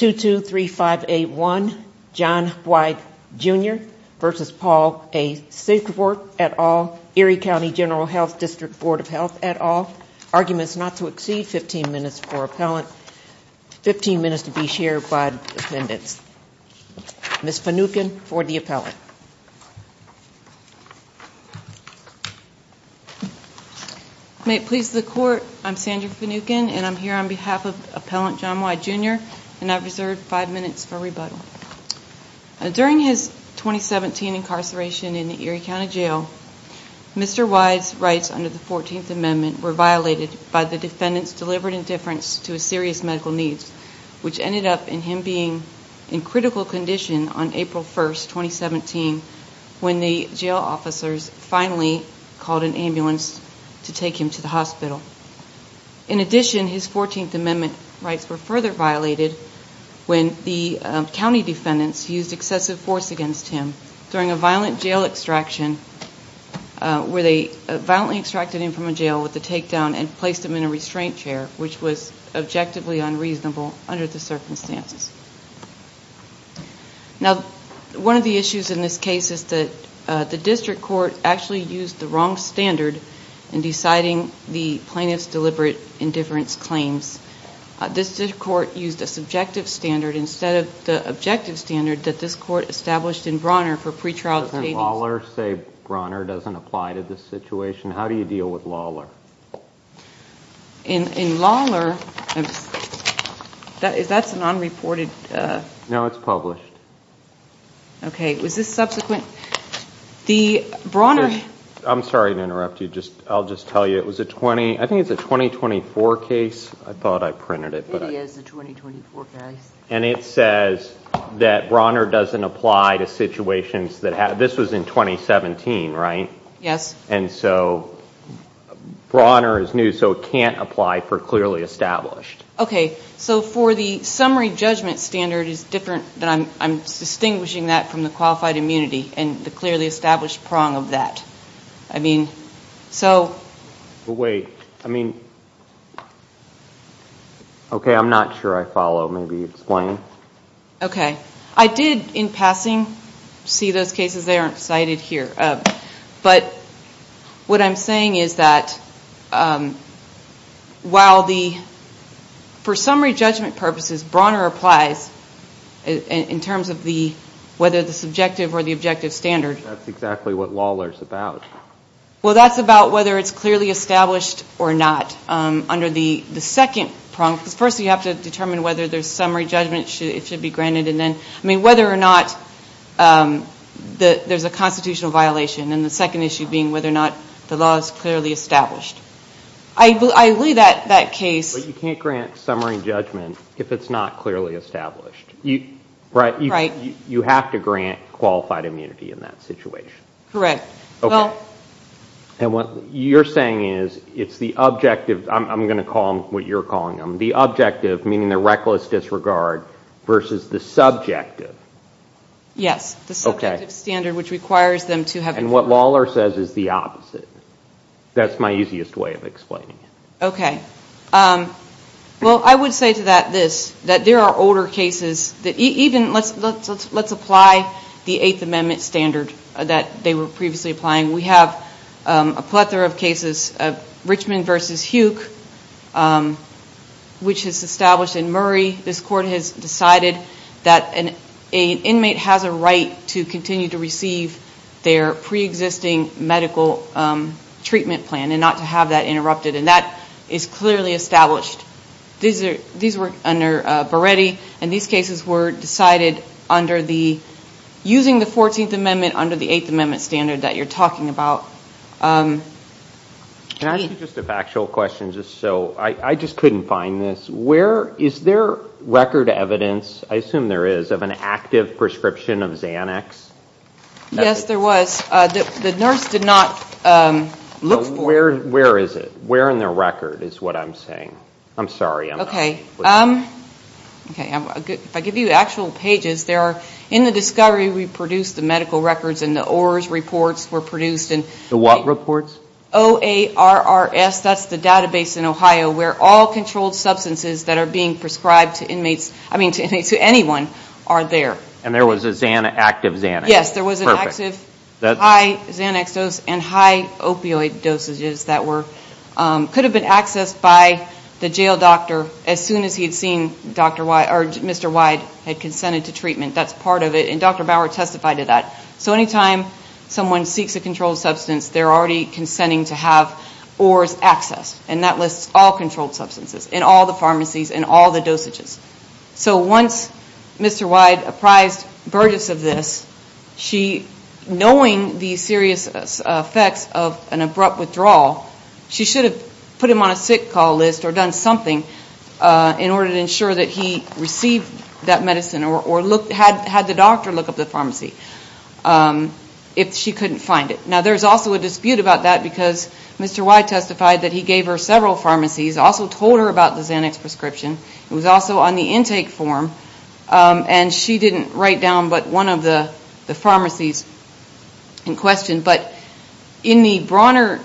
et al, Erie County General Health District Board of Health et al. Arguments not to exceed 15 minutes for appellant, 15 minutes to be shared by the defendants. Ms. Finucane for the appellant. May it please the court, I'm Sandra Finucane and I'm here on behalf of Appellant John Whyde Jr and I've reserved 5 minutes for rebuttal. During his 2017 incarceration in the Erie County Jail, Mr. Whyde's rights under the 14th Amendment were violated by the defendants delivered indifference to his serious medical needs, which ended up in him being in critical condition on April 1, 2017 when the jail officers finally called an ambulance to take him to the hospital. In addition, his 14th Amendment rights were further violated when the county defendants used excessive force against him during a violent jail extraction where they violently extracted him from a jail with a takedown and placed him in a restraint chair, which was objectively unreasonable under the circumstances. Now, one of the issues in this case is that the district court actually used the wrong standard in deciding the plaintiff's deliberate indifference claims. This district court used a subjective standard instead of the objective standard that this court established in Brawner for pre-trial taintings. Does Lawler say Brawner doesn't apply to this situation? How do you deal with Lawler? In Lawler, that's a non-reported... No, it's published. Okay, was this subsequent? The Brawner... I'm sorry to interrupt you. I'll just tell you it was a 20, I think it's a 2024 case. I thought I printed it. It is a 2024 case. And it says that Brawner doesn't apply to situations that have... This was in 2017, right? Yes. And so Brawner is new, so it can't apply for clearly established. Okay, so for the summary judgment standard is different than... I'm distinguishing that from the qualified immunity and the clearly established prong of that. I mean, so... Wait, I mean... Okay, I'm not sure I follow. Maybe explain. Okay. I did, in passing, see those cases, they aren't cited here. But what I'm saying is that while the... For summary judgment purposes, Brawner applies in terms of the... Whether the subjective or the objective standard. That's exactly what Lawler's about. Well, that's about whether it's clearly established or not under the second prong. First, you have to determine whether there's summary judgment. It should be granted. And then, I mean, whether or not there's a constitutional violation. And the second issue being whether or not the law is clearly established. I believe that that case... But you can't grant summary judgment if it's not clearly established. You have to grant qualified immunity in that situation. Correct. Okay. And what you're saying is, it's the objective... I'm going to call them what you're calling them. The reckless disregard versus the subjective. Yes. The subjective standard, which requires them to have... And what Lawler says is the opposite. That's my easiest way of explaining it. Okay. Well, I would say to that this, that there are older cases that even... Let's apply the Eighth Amendment standard that they were previously applying. We have a plethora of cases. Richmond versus Huke, which is established in Murray. This court has decided that an inmate has a right to continue to receive their pre-existing medical treatment plan and not to have that interrupted. And that is clearly established. These were under Beretti. And these cases were decided under the... Using the Fourteenth Amendment under the Eighth Amendment standard that you're talking about. Can I ask you just a factual question just so... I just couldn't find this. Where... Is there record evidence, I assume there is, of an active prescription of Xanax? Yes, there was. The nurse did not look for... Where is it? Where in the record is what I'm saying? I'm sorry, I'm not... Okay. If I give you actual pages, there are... In the discovery, we produced the medical records and the ORS reports were produced and... The what reports? O-A-R-R-S, that's the database in Ohio where all controlled substances that are being prescribed to inmates, I mean to anyone, are there. And there was an active Xanax? Yes, there was an active high Xanax dose and high opioid dosages that were... Could have been accessed by the jail doctor as soon as he had seen Mr. Wyde had consented to treatment. That's part of it and Dr. Bauer testified to that. So anytime someone seeks a controlled substance, they're already consenting to have ORS accessed and that lists all controlled substances in all the pharmacies and all the dosages. So once Mr. Wyde apprised Burgess of this, she... Knowing the serious effects of an abrupt withdrawal, she should have put him on a sick call list or done something in order to ensure that he received that medicine or had the doctor look up the pharmacy if she couldn't find it. Now there's also a dispute about that because Mr. Wyde testified that he gave her several pharmacies, also told her about the Xanax prescription. It was also on the intake form and she didn't write down but one of the pharmacies in question. But in the Brawner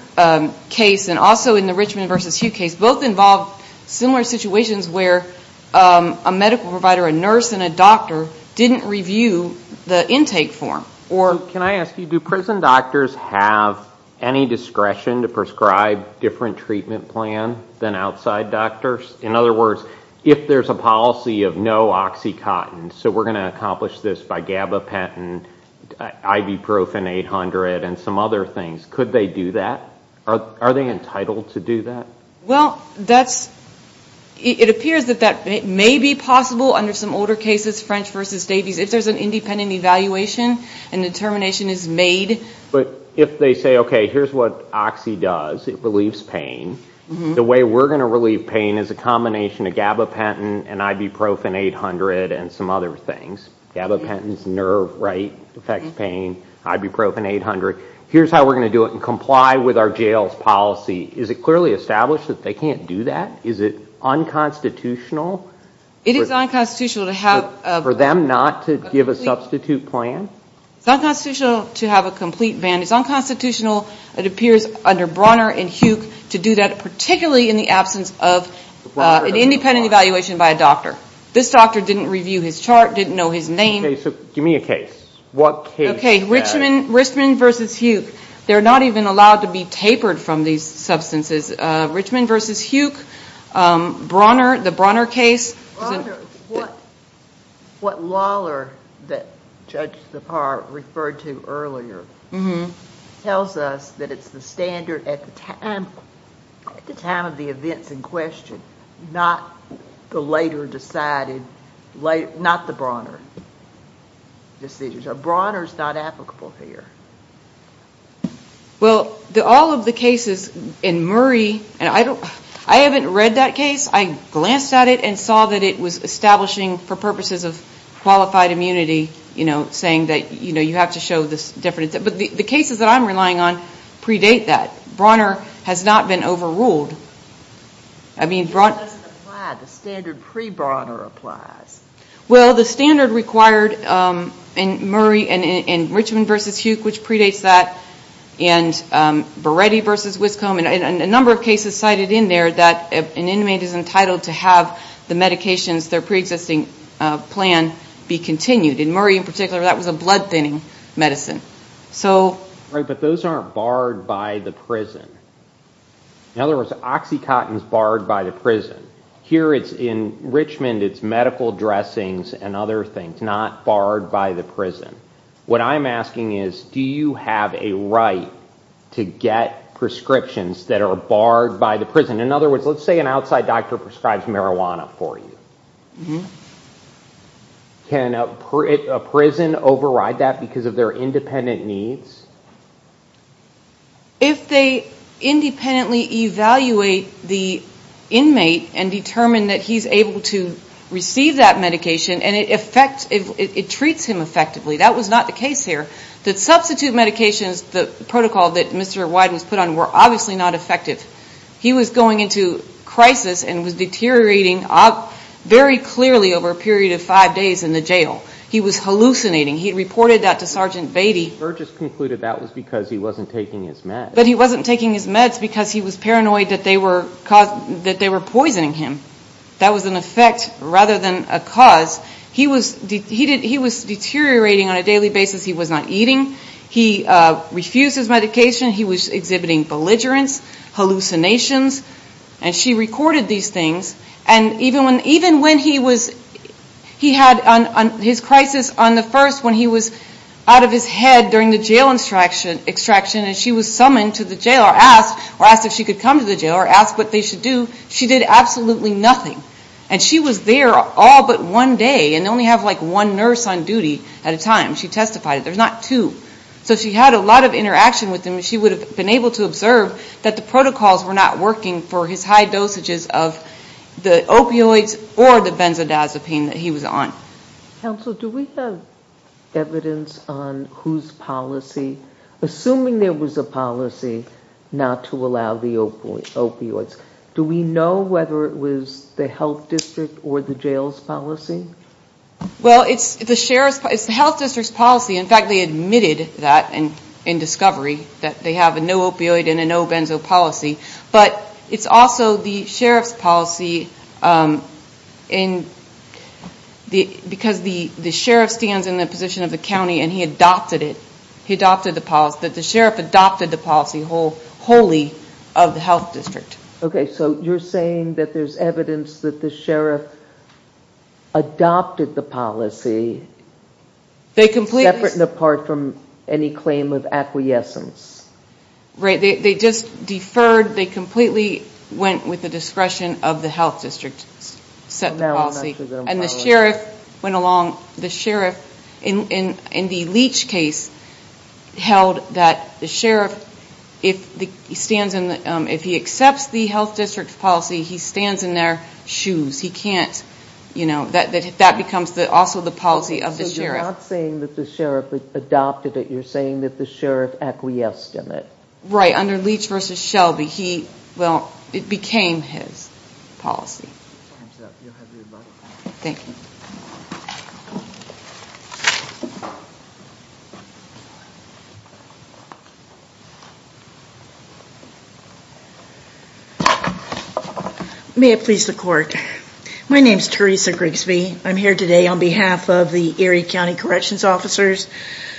case and also in the Richmond versus Hugh case, both involved similar situations where a medical provider, a nurse and a doctor didn't review the intake form or... Can I ask you, do prison doctors have any discretion to prescribe different treatment plan than outside doctors? In other words, if there's a policy of no OxyContin, so we're going to accomplish this by gabapentin, ibuprofen 800 and some other things, could they do that? Are they entitled to do that? Well, that's... It appears that that may be possible under some older cases, French versus Davies, if there's an independent evaluation and determination is made. But if they say, okay, here's what Oxy does, it relieves pain. The way we're going to relieve pain is a combination of gabapentin and ibuprofen 800 and some other things. Gabapentin's nerve right affects pain, ibuprofen 800. Here's how we're going to do it and comply with our jail's policy. Is it clearly established that they can't do that? Is it unconstitutional? It is unconstitutional to have... For them not to give a substitute plan? It's unconstitutional to have a complete ban. It's unconstitutional, it appears, under Bronner and Huke to do that, particularly in the absence of an independent evaluation by a doctor. This doctor didn't review his chart, didn't know his name. Okay, so give me a case. What case... Okay, Richman versus Huke. They're not even allowed to be tapered from these substances. Richman versus Huke. Bronner, the Bronner case... I wonder what Lawler, that Judge DePauw referred to earlier, tells us that it's the standard at the time of the events in question, not the later decided, not the Bronner decisions. A Bronner's not applicable here. Well, all of the cases in Murray, and I haven't read that case. I glanced at it and saw that it was establishing, for purposes of qualified immunity, saying that you have to show this different... But the cases that I'm relying on predate that. Bronner has not been overruled. I mean, Bronner... It doesn't apply. The standard pre-Bronner applies. Well, the standard required in Murray, in Richman versus Huke, which predates that, and Beretti versus Wiscombe, and a number of cases cited in there that an inmate is entitled to have the medications, their pre-existing plan, be continued. In Murray, in particular, that was a blood-thinning medicine, so... Right, but those aren't barred by the prison. In other words, OxyContin's barred by the prison. Here, in Richman, it's medical dressings and other things, not barred by the prison. What I'm asking is, do you have a right to get prescriptions that are barred by the prison? In other words, let's say an outside doctor prescribes marijuana for you. Can a prison override that because of their independent needs? If they independently evaluate the inmate and determine that he's able to receive that medication and it treats him effectively, that was not the case here. The substitute medications, the protocol that Mr. Wyden's put on, were obviously not effective. He was going into crisis and was deteriorating very clearly over a period of five days in the jail. He was hallucinating. He reported that to Sergeant Beatty. Burgess concluded that was because he wasn't taking his meds. But he wasn't taking his meds because he was paranoid that they were poisoning him. That was an effect rather than a cause. He was deteriorating on a daily basis. He was not eating. He refused his medication. He was exhibiting belligerence, hallucinations. And she recorded these things. And even when he was, he had his crisis on the first when he was out of his head during the jail extraction and she was summoned to the jail or asked or asked if she could come to the jail or asked what they should do. She did absolutely nothing. And she was there all but one day and only have like one nurse on duty at a time. She testified. There's not two. So she had a lot of interaction with him. She would have been able to observe that the protocols were not working for his high dosages of the opioids or the benzodiazepine that he was on. Counsel, do we have evidence on whose policy, assuming there was a policy not to allow the opioids, do we know whether it was the health district or the jail's policy? Well, it's the sheriff's, it's the health district's policy. In fact, they admitted that in discovery that they have a no opioid and a no benzo policy. But it's also the sheriff's policy because the sheriff stands in the position of the county and he adopted it, he adopted the policy, that the sheriff adopted the policy wholly of the health district. Okay, so you're saying that there's evidence that the sheriff adopted the policy. Separate and apart from any claim of acquiescence. Right, they just deferred, they completely went with the discretion of the health district, set the policy. And the sheriff went along, the sheriff in the Leach case held that the sheriff, if he accepts the health district's policy, he stands in their shoes. He can't, you know, that becomes also the policy of the sheriff. So you're not saying that the sheriff adopted it, you're saying that the sheriff acquiesced in it. Right, under Leach v. Shelby, he, well, it became his policy. You'll have your money back. Thank you. May it please the court. My name's Teresa Grigsby. I'm here today on behalf of the Erie County Corrections Officers,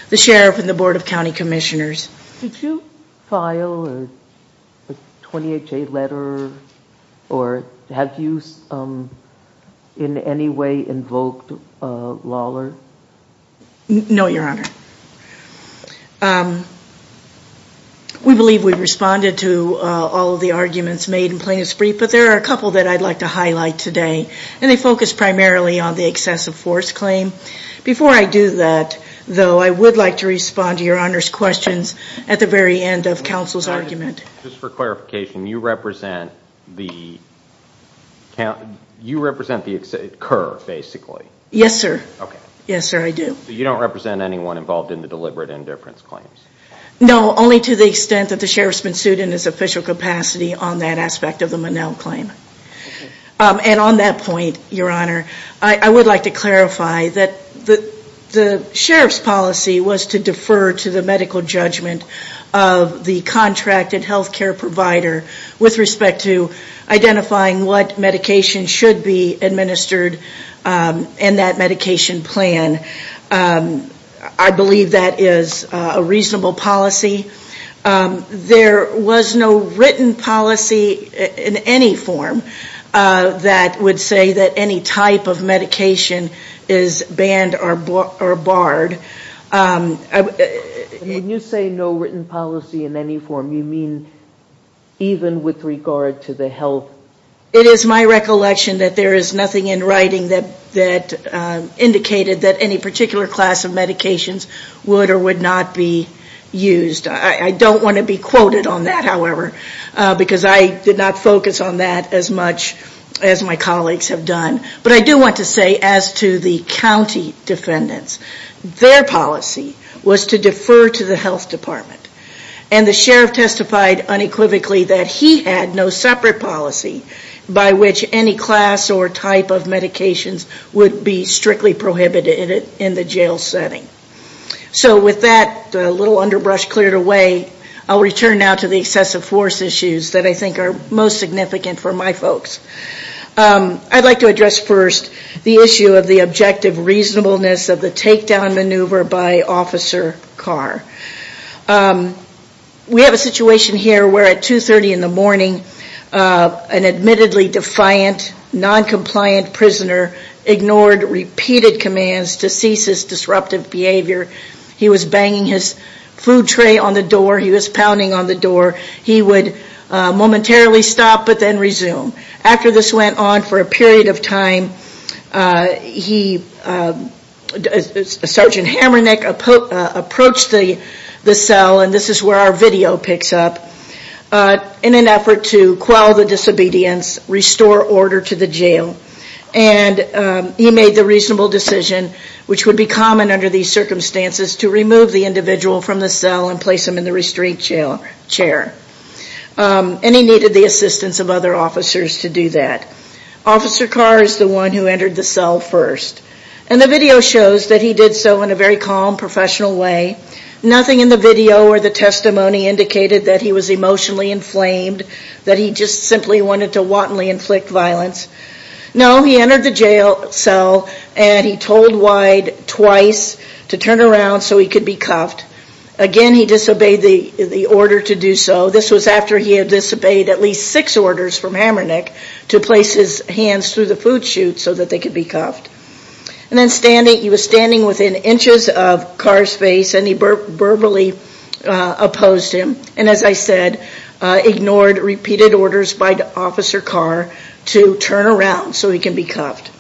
the sheriff, and the Board of County Commissioners. Did you file a 20HA letter or have you in any way invoked a lawler? No, Your Honor. We believe we've responded to all of the arguments made in plain and spree, but there are a couple that I'd like to highlight today, and they focus primarily on the excessive force claim. Before I do that, though, I would like to respond to Your Honor's questions at the very end of counsel's argument. Just for clarification, you represent the curve, basically? Yes, sir. Okay. Yes, sir, I do. So you don't represent anyone involved in the deliberate indifference claims? No, only to the extent that the sheriff's been sued in his official capacity on that aspect of the Monell claim. And on that point, Your Honor, I would like to clarify that the sheriff's policy was to defer to the medical judgment of the contracted health care provider with respect to identifying what medication should be administered in that medication plan. I believe that is a reasonable policy. There was no written policy in any form that would say that any type of medication is banned or barred. When you say no written policy in any form, you mean even with regard to the health? It is my recollection that there is nothing in writing that indicated that any particular class of medications would or would not be used. I don't want to be quoted on that, however, because I did not focus on that as much as my colleagues have done. But I do want to say, as to the county defendants, their policy was to defer to the health department. And the sheriff testified unequivocally that he had no separate policy by which any class or type of medications would be strictly prohibited in the jail setting. So with that little underbrush cleared away, I will return now to the excessive force issues that I think are most significant for my folks. I would like to address first the issue of the objective reasonableness of the takedown maneuver by Officer Carr. We have a situation here where at 2.30 in the morning, an admittedly defiant, non-compliant prisoner ignored repeated commands to cease his disruptive behavior. He was banging his food tray on the door. He was pounding on the door. He would momentarily stop but then resume. After this went on for a period of time, Sergeant Hamernick approached the cell, and this is where our video picks up, in an effort to quell the disobedience, restore order to the And he made the reasonable decision, which would be common under these circumstances, to remove the individual from the cell and place him in the restraint chair. And he needed the assistance of other officers to do that. Officer Carr is the one who entered the cell first. And the video shows that he did so in a very calm, professional way. Nothing in the video or the testimony indicated that he was emotionally inflamed, that he just simply wanted to wantonly inflict violence. No, he entered the jail cell and he told Wyde twice to turn around so he could be cuffed. Again, he disobeyed the order to do so. This was after he had disobeyed at least six orders from Hamernick to place his hands through the food chute so that they could be cuffed. And then he was standing within inches of Carr's face and he verbally opposed him, and as I said, ignored repeated orders by Officer Carr to turn around so he could be cuffed.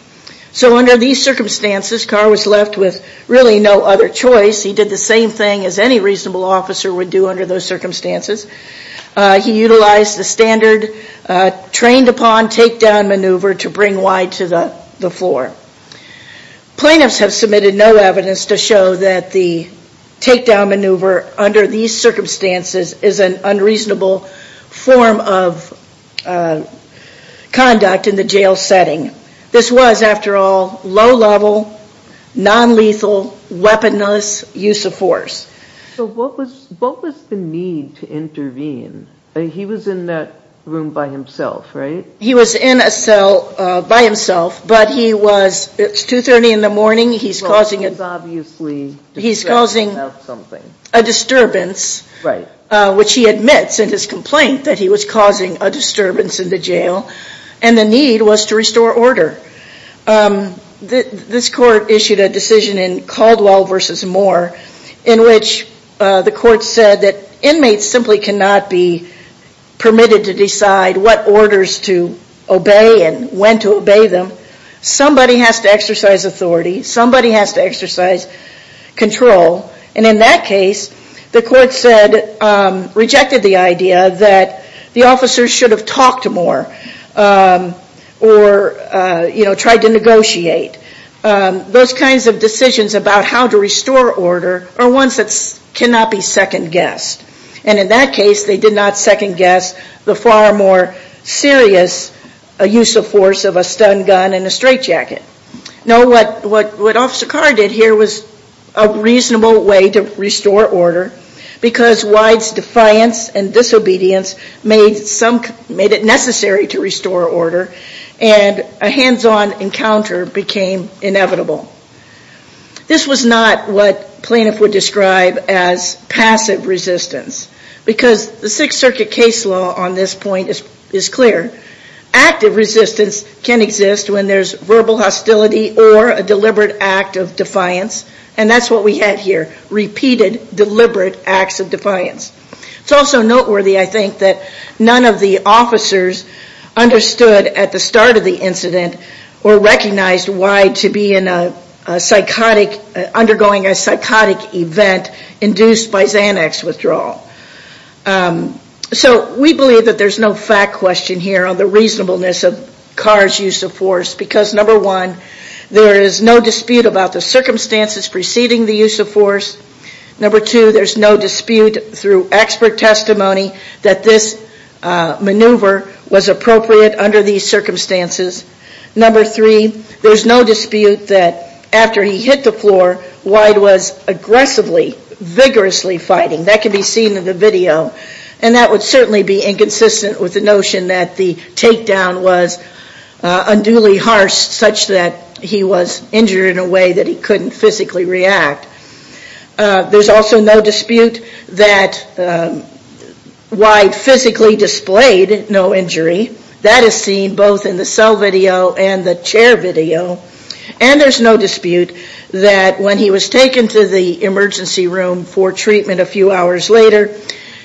So under these circumstances, Carr was left with really no other choice. He did the same thing as any reasonable officer would do under those circumstances. He utilized the standard trained upon takedown maneuver to bring Wyde to the floor. Plaintiffs have submitted no evidence to show that the takedown maneuver under these circumstances is an unreasonable form of conduct in the jail setting. This was, after all, low-level, non-lethal, weaponless use of force. So what was the need to intervene? He was in that room by himself, right? He was in a cell by himself, but it's 2.30 in the morning. He's causing a disturbance, which he admits in his complaint that he was causing a disturbance in the jail, and the need was to restore order. This court issued a decision in Caldwell v. Moore in which the court said that inmates simply cannot be permitted to decide what orders to obey and when to obey them. Somebody has to exercise authority. Somebody has to exercise control. In that case, the court rejected the idea that the officers should have talked more or tried to negotiate. Those kinds of decisions about how to restore order are ones that cannot be second-guessed. In that case, they did not second-guess the far more serious use of force of a stun gun and a straitjacket. No, what Officer Carr did here was a reasonable way to restore order because Wyde's defiance and disobedience made it necessary to restore order, and a hands-on encounter became inevitable. This was not what plaintiff would describe as passive resistance because the Sixth Circuit case law on this point is clear. Active resistance can exist when there's verbal hostility or a deliberate act of defiance, and that's what we had here, repeated deliberate acts of defiance. It's also noteworthy, I think, that none of the officers understood at the start of the incident or recognized why to be undergoing a psychotic event induced by Xanax withdrawal. We believe that there's no fact question here on the reasonableness of Carr's use of force because number one, there is no dispute about the circumstances preceding the use of force. Number two, there's no dispute through expert testimony that this maneuver was appropriate under these circumstances. Number three, there's no dispute that after he hit the floor, Wyde was aggressively, vigorously fighting. That can be seen in the video, and that would certainly be inconsistent with the notion that the takedown was unduly harsh such that he was injured in a way that he couldn't physically react. There's also no dispute that Wyde physically displayed no injury. That is seen both in the cell video and the chair video, and there's no dispute that when he was taken to the emergency room for treatment a few hours later,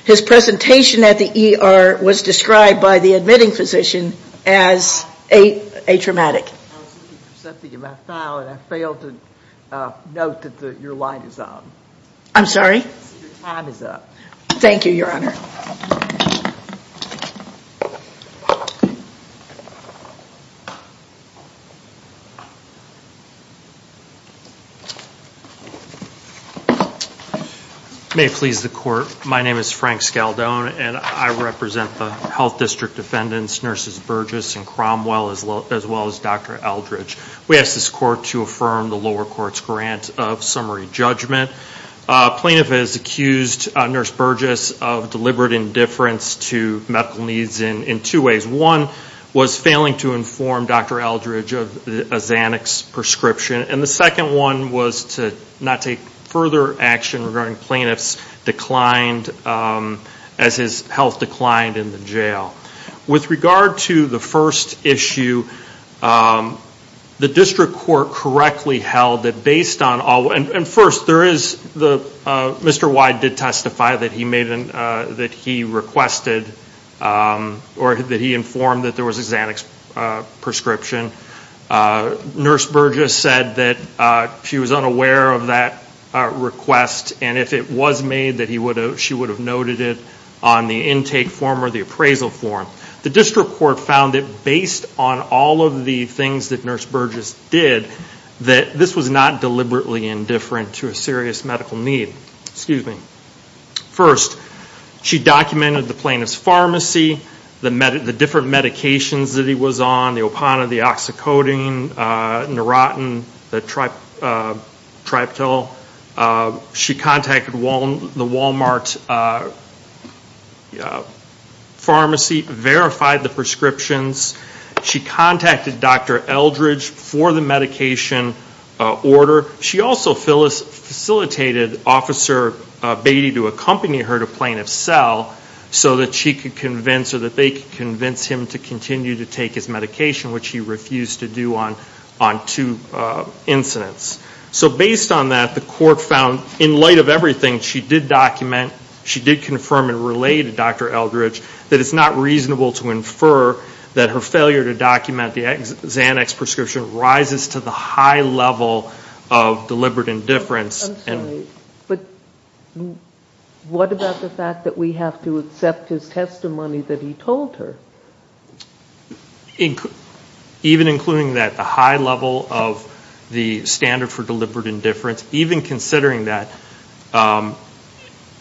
his presentation at the ER was described by the admitting physician as atraumatic. I was looking through something in my file, and I failed to note that your light is on. I'm sorry? Your time is up. Thank you, Your Honor. May it please the Court, my name is Frank Scaldone, and I represent the Health District defendants, Nurses Burgess and Cromwell, as well as Dr. Eldridge. We ask this Court to affirm the lower court's grant of summary judgment. A plaintiff has accused Nurse Burgess of deliberate indifference to medical needs in two ways. One was failing to inform Dr. Eldridge of a Xanax prescription, and the second one was to not take further action regarding plaintiff's decline as his health declined in the jail. With regard to the first issue, the District Court correctly held that based on, and first there is, Mr. Wyde did testify that he requested, or that he informed that there was a Xanax prescription. Nurse Burgess said that she was unaware of that request, and if it was made that she would have noted it on the intake form or the appraisal form. The District Court found that based on all of the things that Nurse Burgess did, that this was not deliberately indifferent to a serious medical need. First, she documented the plaintiff's pharmacy, the different medications that he was on, the Opana, the Oxycodone, Neurotin, the Triptyl. She contacted the Walmart pharmacy, verified the prescriptions. She contacted Dr. Eldridge for the medication order. She also facilitated Officer Beatty to accompany her to plaintiff's cell so that she could convince, or that they could convince him to continue to take his medication, which he refused to do on two incidents. So based on that, the Court found in light of everything she did document, she did confirm and relay to Dr. Eldridge that it's not reasonable to infer that her failure to document the Xanax prescription rises to the high level of deliberate indifference. I'm sorry, but what about the fact that we have to accept his testimony that he told her? Even including that, the high level of the standard for deliberate indifference, even considering that,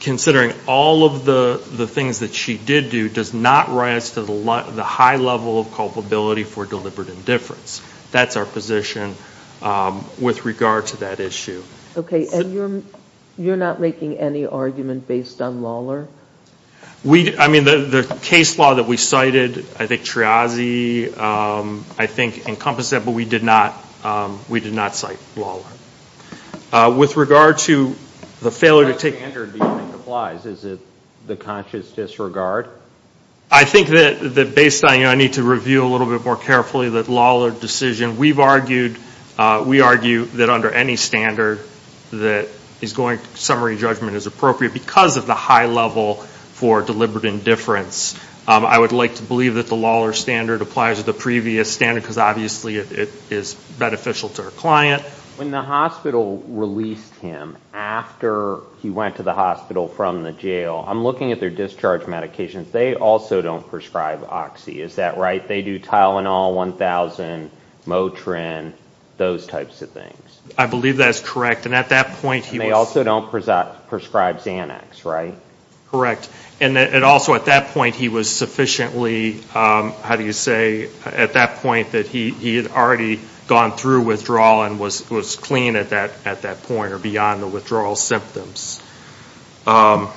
considering all of the things that she did do, does not rise to the high level of culpability for deliberate indifference. That's our position with regard to that issue. And you're not making any argument based on Lawlor? I mean, the case law that we cited, I think Triazi, I think, encompassed that, but we did not cite Lawlor. With regard to the failure to take... What standard do you think applies? Is it the conscious disregard? I think that based on, you know, I need to review a little bit more carefully the Lawlor decision. We've argued, we argue that under any standard that is going to summary judgment is appropriate because of the high level for deliberate indifference. I would like to believe that the Lawlor standard applies to the previous standard because obviously it is beneficial to her client. When the hospital released him after he went to the hospital from the jail, I'm looking at their discharge medications. They also don't prescribe Oxy. Is that right? They do Tylenol, 1000, Motrin, those types of things. I believe that is correct. And at that point he was... And they also don't prescribe Xanax, right? Correct. And also at that point he was sufficiently, how do you say, at that point that he had already gone through withdrawal and was clean at that point or beyond the withdrawal symptoms. The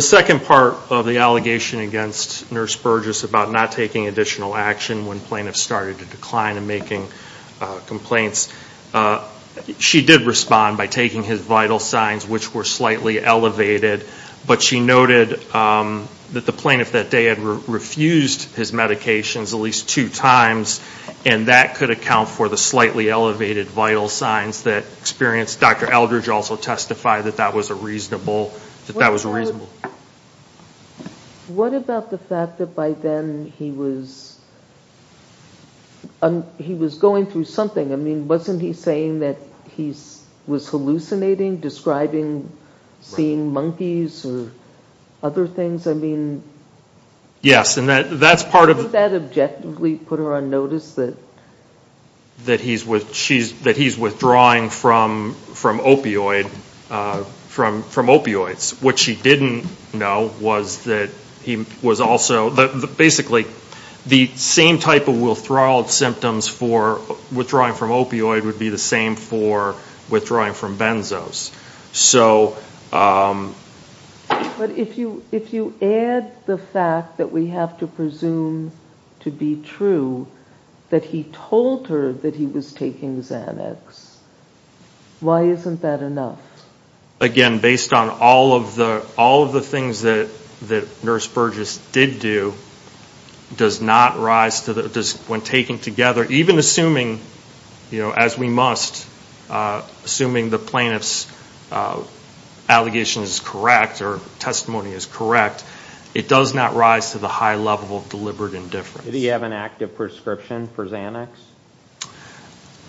second part of the allegation against Nurse Burgess about not taking additional action when plaintiffs started to decline and making complaints, she did respond by taking his vital signs which were slightly elevated, but she noted that the plaintiff that day had refused his medications at least two times and that could account for the slightly What about the fact that by then he was going through something? I mean, wasn't he saying that he was hallucinating, describing seeing monkeys or other things? I mean... Yes. And that's part of... Wouldn't that objectively put her on notice that... That he's withdrawing from opioids. What she didn't know was that he was also... Basically the same type of withdrawal symptoms for withdrawing from opioid would be the same for withdrawing from benzos. So... But if you add the fact that we have to presume to be true that he told her that he was taking Xanax, why isn't that enough? Again, based on all of the things that Nurse Burgess did do, does not rise to the... When taken together, even assuming, as we must, assuming the plaintiff's allegation is correct or testimony is correct, it does not rise to the high level of deliberate indifference. Did he have an active prescription for Xanax?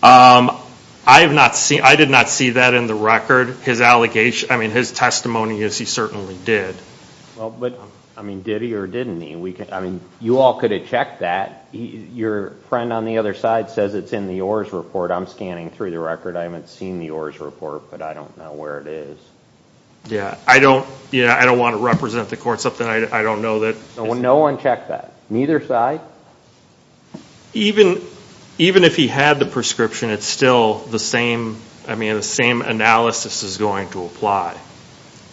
I did not see that in the record. His testimony is he certainly did. Did he or didn't he? You all could have checked that. Your friend on the other side says it's in the ORS report. I'm scanning through the record. I haven't seen the ORS report, but I don't know where it is. Yeah, I don't want to represent the court something I don't know that... So no one checked that? Neither side? Even if he had the prescription, it's still the same analysis is going to apply.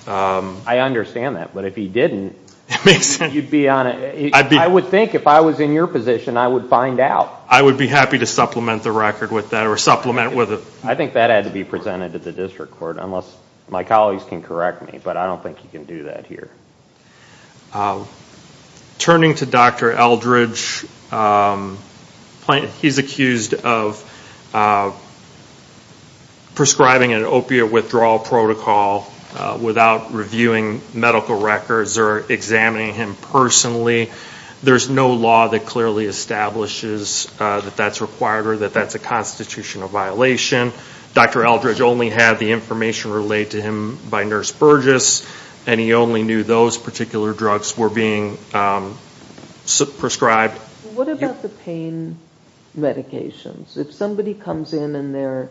I understand that, but if he didn't... I would think if I was in your position, I would find out. I would be happy to supplement the record with that or supplement with... I think that had to be presented to the district court, unless my colleagues can correct me. But I don't think you can do that here. Turning to Dr. Eldridge, he's accused of prescribing an opiate withdrawal protocol without reviewing medical records or examining him personally. There's no law that clearly establishes that that's required or that that's a constitutional violation. Dr. Eldridge only had the information relayed to him by Nurse Burgess, and he only knew those particular drugs were being prescribed. What about the pain medications? If somebody comes in and they're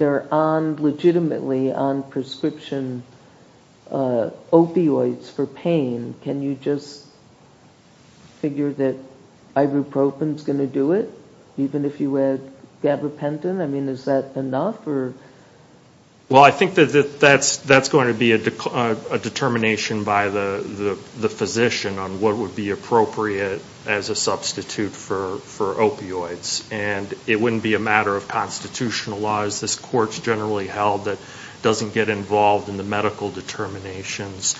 legitimately on prescription opioids for pain, can you just figure that ibuprofen's going to do it, even if you had gabapentin? I mean, is that enough? Well, I think that that's going to be a determination by the physician on what would be appropriate as a substitute for opioids. And it wouldn't be a matter of constitutional law, as this court's generally held, that doesn't get involved in the medical determinations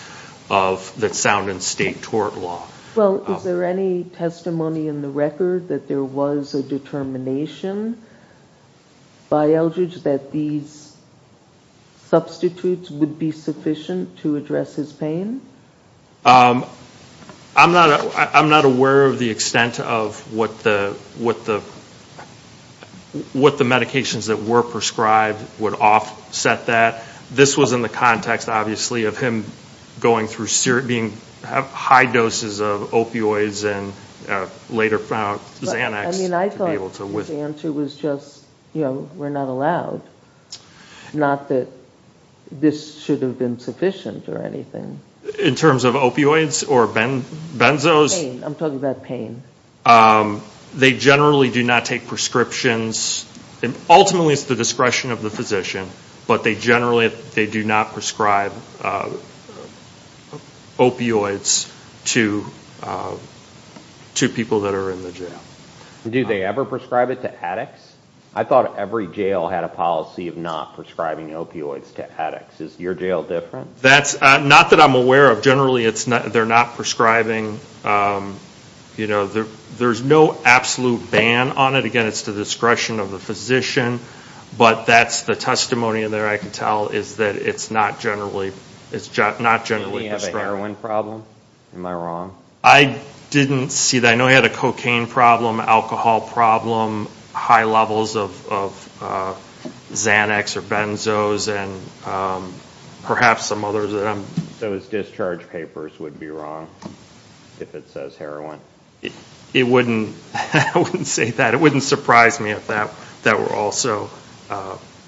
that sound in state tort law. Well, is there any testimony in the record that there was a determination by Eldridge that these substitutes would be sufficient to address his pain? I'm not aware of the extent of what the medications that were prescribed would offset that. This was in the context, obviously, of him going through high doses of opioids and later found Xanax. I mean, I thought his answer was just, you know, we're not allowed. Not that this should have been sufficient or anything. In terms of opioids or benzos? Pain. I'm talking about pain. They generally do not take prescriptions. Ultimately, it's the discretion of the physician. But they generally do not prescribe opioids to people that are in the jail. Do they ever prescribe it to addicts? I thought every jail had a policy of not prescribing opioids to addicts. Is your jail different? Not that I'm aware of. Generally, they're not prescribing. There's no absolute ban on it. Again, it's the discretion of the physician. But that's the testimony in there I can tell is that it's not generally prescribed. Did he have a heroin problem? Am I wrong? I didn't see that. I know he had a cocaine problem, alcohol problem, high levels of Xanax or benzos and perhaps some others. Those discharge papers would be wrong if it says heroin. I wouldn't say that. It wouldn't surprise me if that were also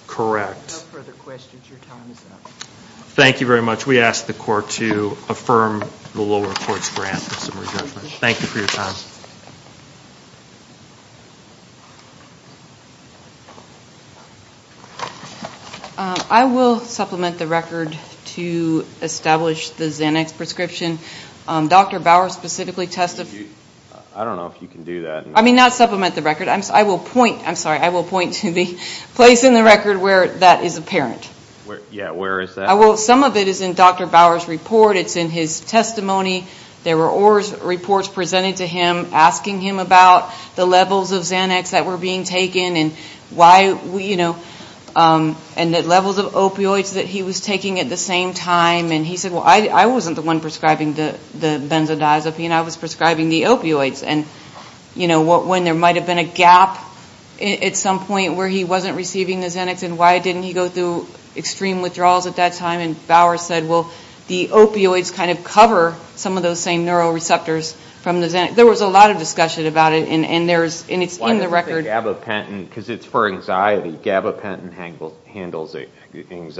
correct. No further questions. Your time is up. Thank you very much. We ask the court to affirm the lower court's grant for some re-judgment. Thank you for your time. I will supplement the record to establish the Xanax prescription. Dr. Bauer specifically testified. I don't know if you can do that. Not supplement the record. I will point to the place in the record where that is apparent. Where is that? Some of it is in Dr. Bauer's report. It's in his testimony. There were reports presented to him asking him about the levels of Xanax that were being taken and the levels of opioids that he was taking at the same time. He said, well, I wasn't the one prescribing the benzodiazepine. I was prescribing the opioids. When there might have been a gap at some point where he wasn't receiving the Xanax and why didn't he go through extreme withdrawals at that time. Bauer said, well, the opioids kind of cover some of those same neuroreceptors from the Xanax. There was a lot of discussion about it. It's in the record. It's for anxiety. Gabapentin handles anxiety.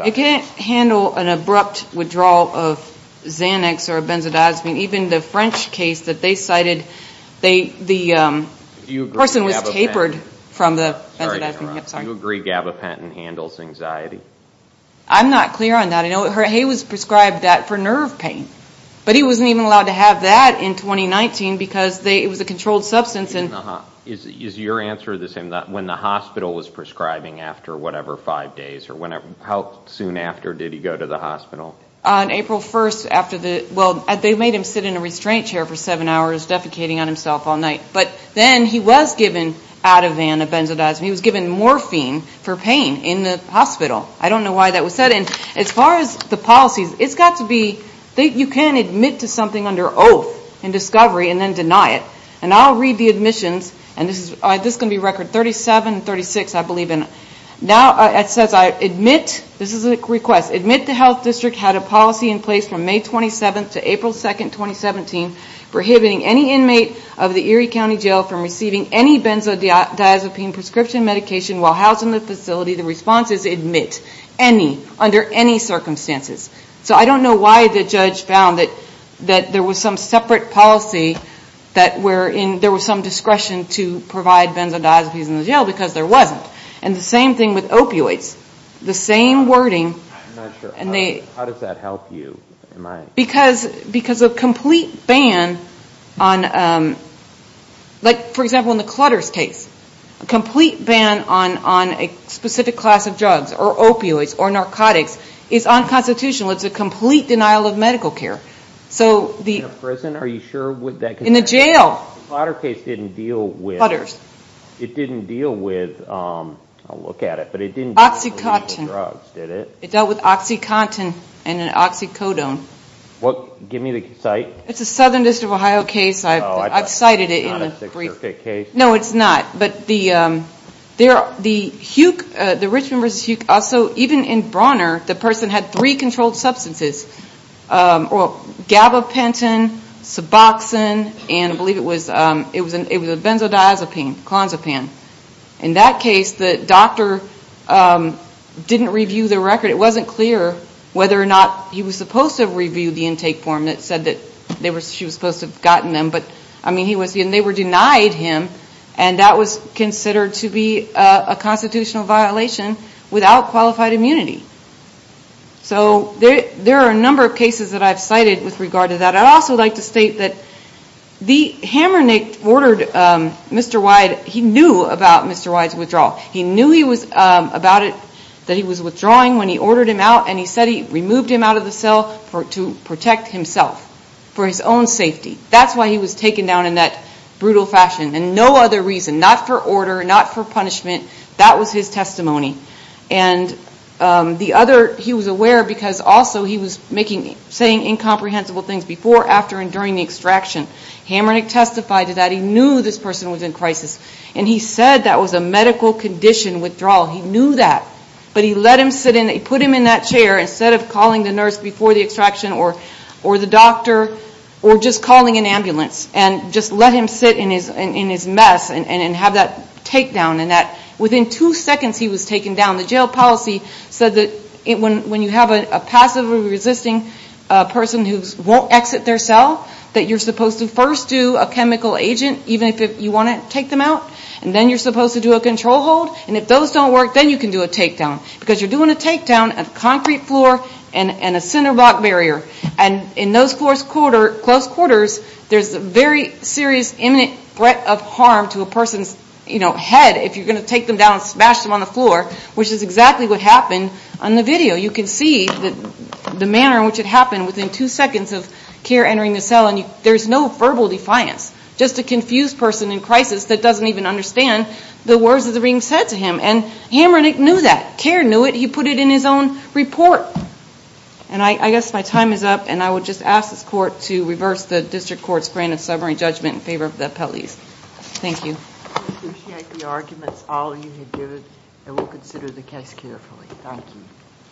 It can't handle an abrupt withdrawal of Xanax or benzodiazepine. Even the French case that they cited, the person was tapered from the benzodiazepine. Do you agree Gabapentin handles anxiety? I'm not clear on that. He was prescribed that for nerve pain. But he wasn't even allowed to have that in 2019 because it was a controlled substance. Is your answer the same, when the hospital was prescribing after whatever, five days? How soon after did he go to the hospital? On April 1st after the, well, they made him sit in a restraint chair for seven hours, defecating on himself all night. But then he was given Ativan, a benzodiazepine. He was given morphine for pain in the hospital. I don't know why that was said. And as far as the policies, it's got to be, you can't admit to something under oath in discovery and then deny it. And I'll read the admissions, and this is going to be record 37 and 36, I believe. And now it says I admit, this is a request, admit the health district had a policy in place from May 27th to April 2nd, 2017, prohibiting any inmate of the Erie County Jail from receiving any benzodiazepine prescription medication while housed in the facility. The response is admit any, under any circumstances. So I don't know why the judge found that there was some separate policy that were in, to provide benzodiazepines in the jail because there wasn't. And the same thing with opioids. The same wording. I'm not sure. How does that help you? Because a complete ban on, like, for example, in the Clutter's case, a complete ban on a specific class of drugs or opioids or narcotics is unconstitutional. It's a complete denial of medical care. In a prison? Are you sure? In a jail. Clutter's case didn't deal with. Clutter's. It didn't deal with, I'll look at it, but it didn't deal with drugs, did it? It dealt with oxycontin and an oxycodone. Give me the site. It's a Southern District of Ohio case. I've cited it in the brief. Oh, it's not a six or eight case? No, it's not. But the Huk, the Richmond v. Huk also, even in Brawner, the person had three controlled substances. Gabapentin, Suboxone, and I believe it was a benzodiazepine, Clonazepam. In that case, the doctor didn't review the record. It wasn't clear whether or not he was supposed to have reviewed the intake form that said that she was supposed to have gotten them. And they were denied him, and that was considered to be a constitutional violation without qualified immunity. So there are a number of cases that I've cited with regard to that. I'd also like to state that the Hammernick ordered Mr. Wyde, he knew about Mr. Wyde's withdrawal. He knew he was withdrawing when he ordered him out, and he said he removed him out of the cell to protect himself for his own safety. That's why he was taken down in that brutal fashion and no other reason, not for order, not for punishment. That was his testimony. And the other, he was aware because also he was saying incomprehensible things before, after, and during the extraction. Hammernick testified to that. He knew this person was in crisis, and he said that was a medical condition withdrawal. He knew that, but he let him sit in, put him in that chair instead of calling the nurse before the extraction or the doctor or just calling an ambulance, and just let him sit in his mess and have that takedown. And that within two seconds he was taken down. The jail policy said that when you have a passively resisting person who won't exit their cell, that you're supposed to first do a chemical agent, even if you want to take them out, and then you're supposed to do a control hold. And if those don't work, then you can do a takedown because you're doing a takedown of concrete floor and a cinder block barrier. And in those close quarters, there's a very serious imminent threat of harm to a person's head if you're going to take them down and smash them on the floor, which is exactly what happened on the video. You can see the manner in which it happened within two seconds of Kerr entering the cell, and there's no verbal defiance, just a confused person in crisis that doesn't even understand the words that are being said to him. And Hammernick knew that. Kerr knew it. He put it in his own report. And I guess my time is up, and I would just ask this court to reverse the district court's granted summary judgment in favor of the appellees. Thank you. I appreciate the arguments. All you have given, and we'll consider the case carefully. Thank you.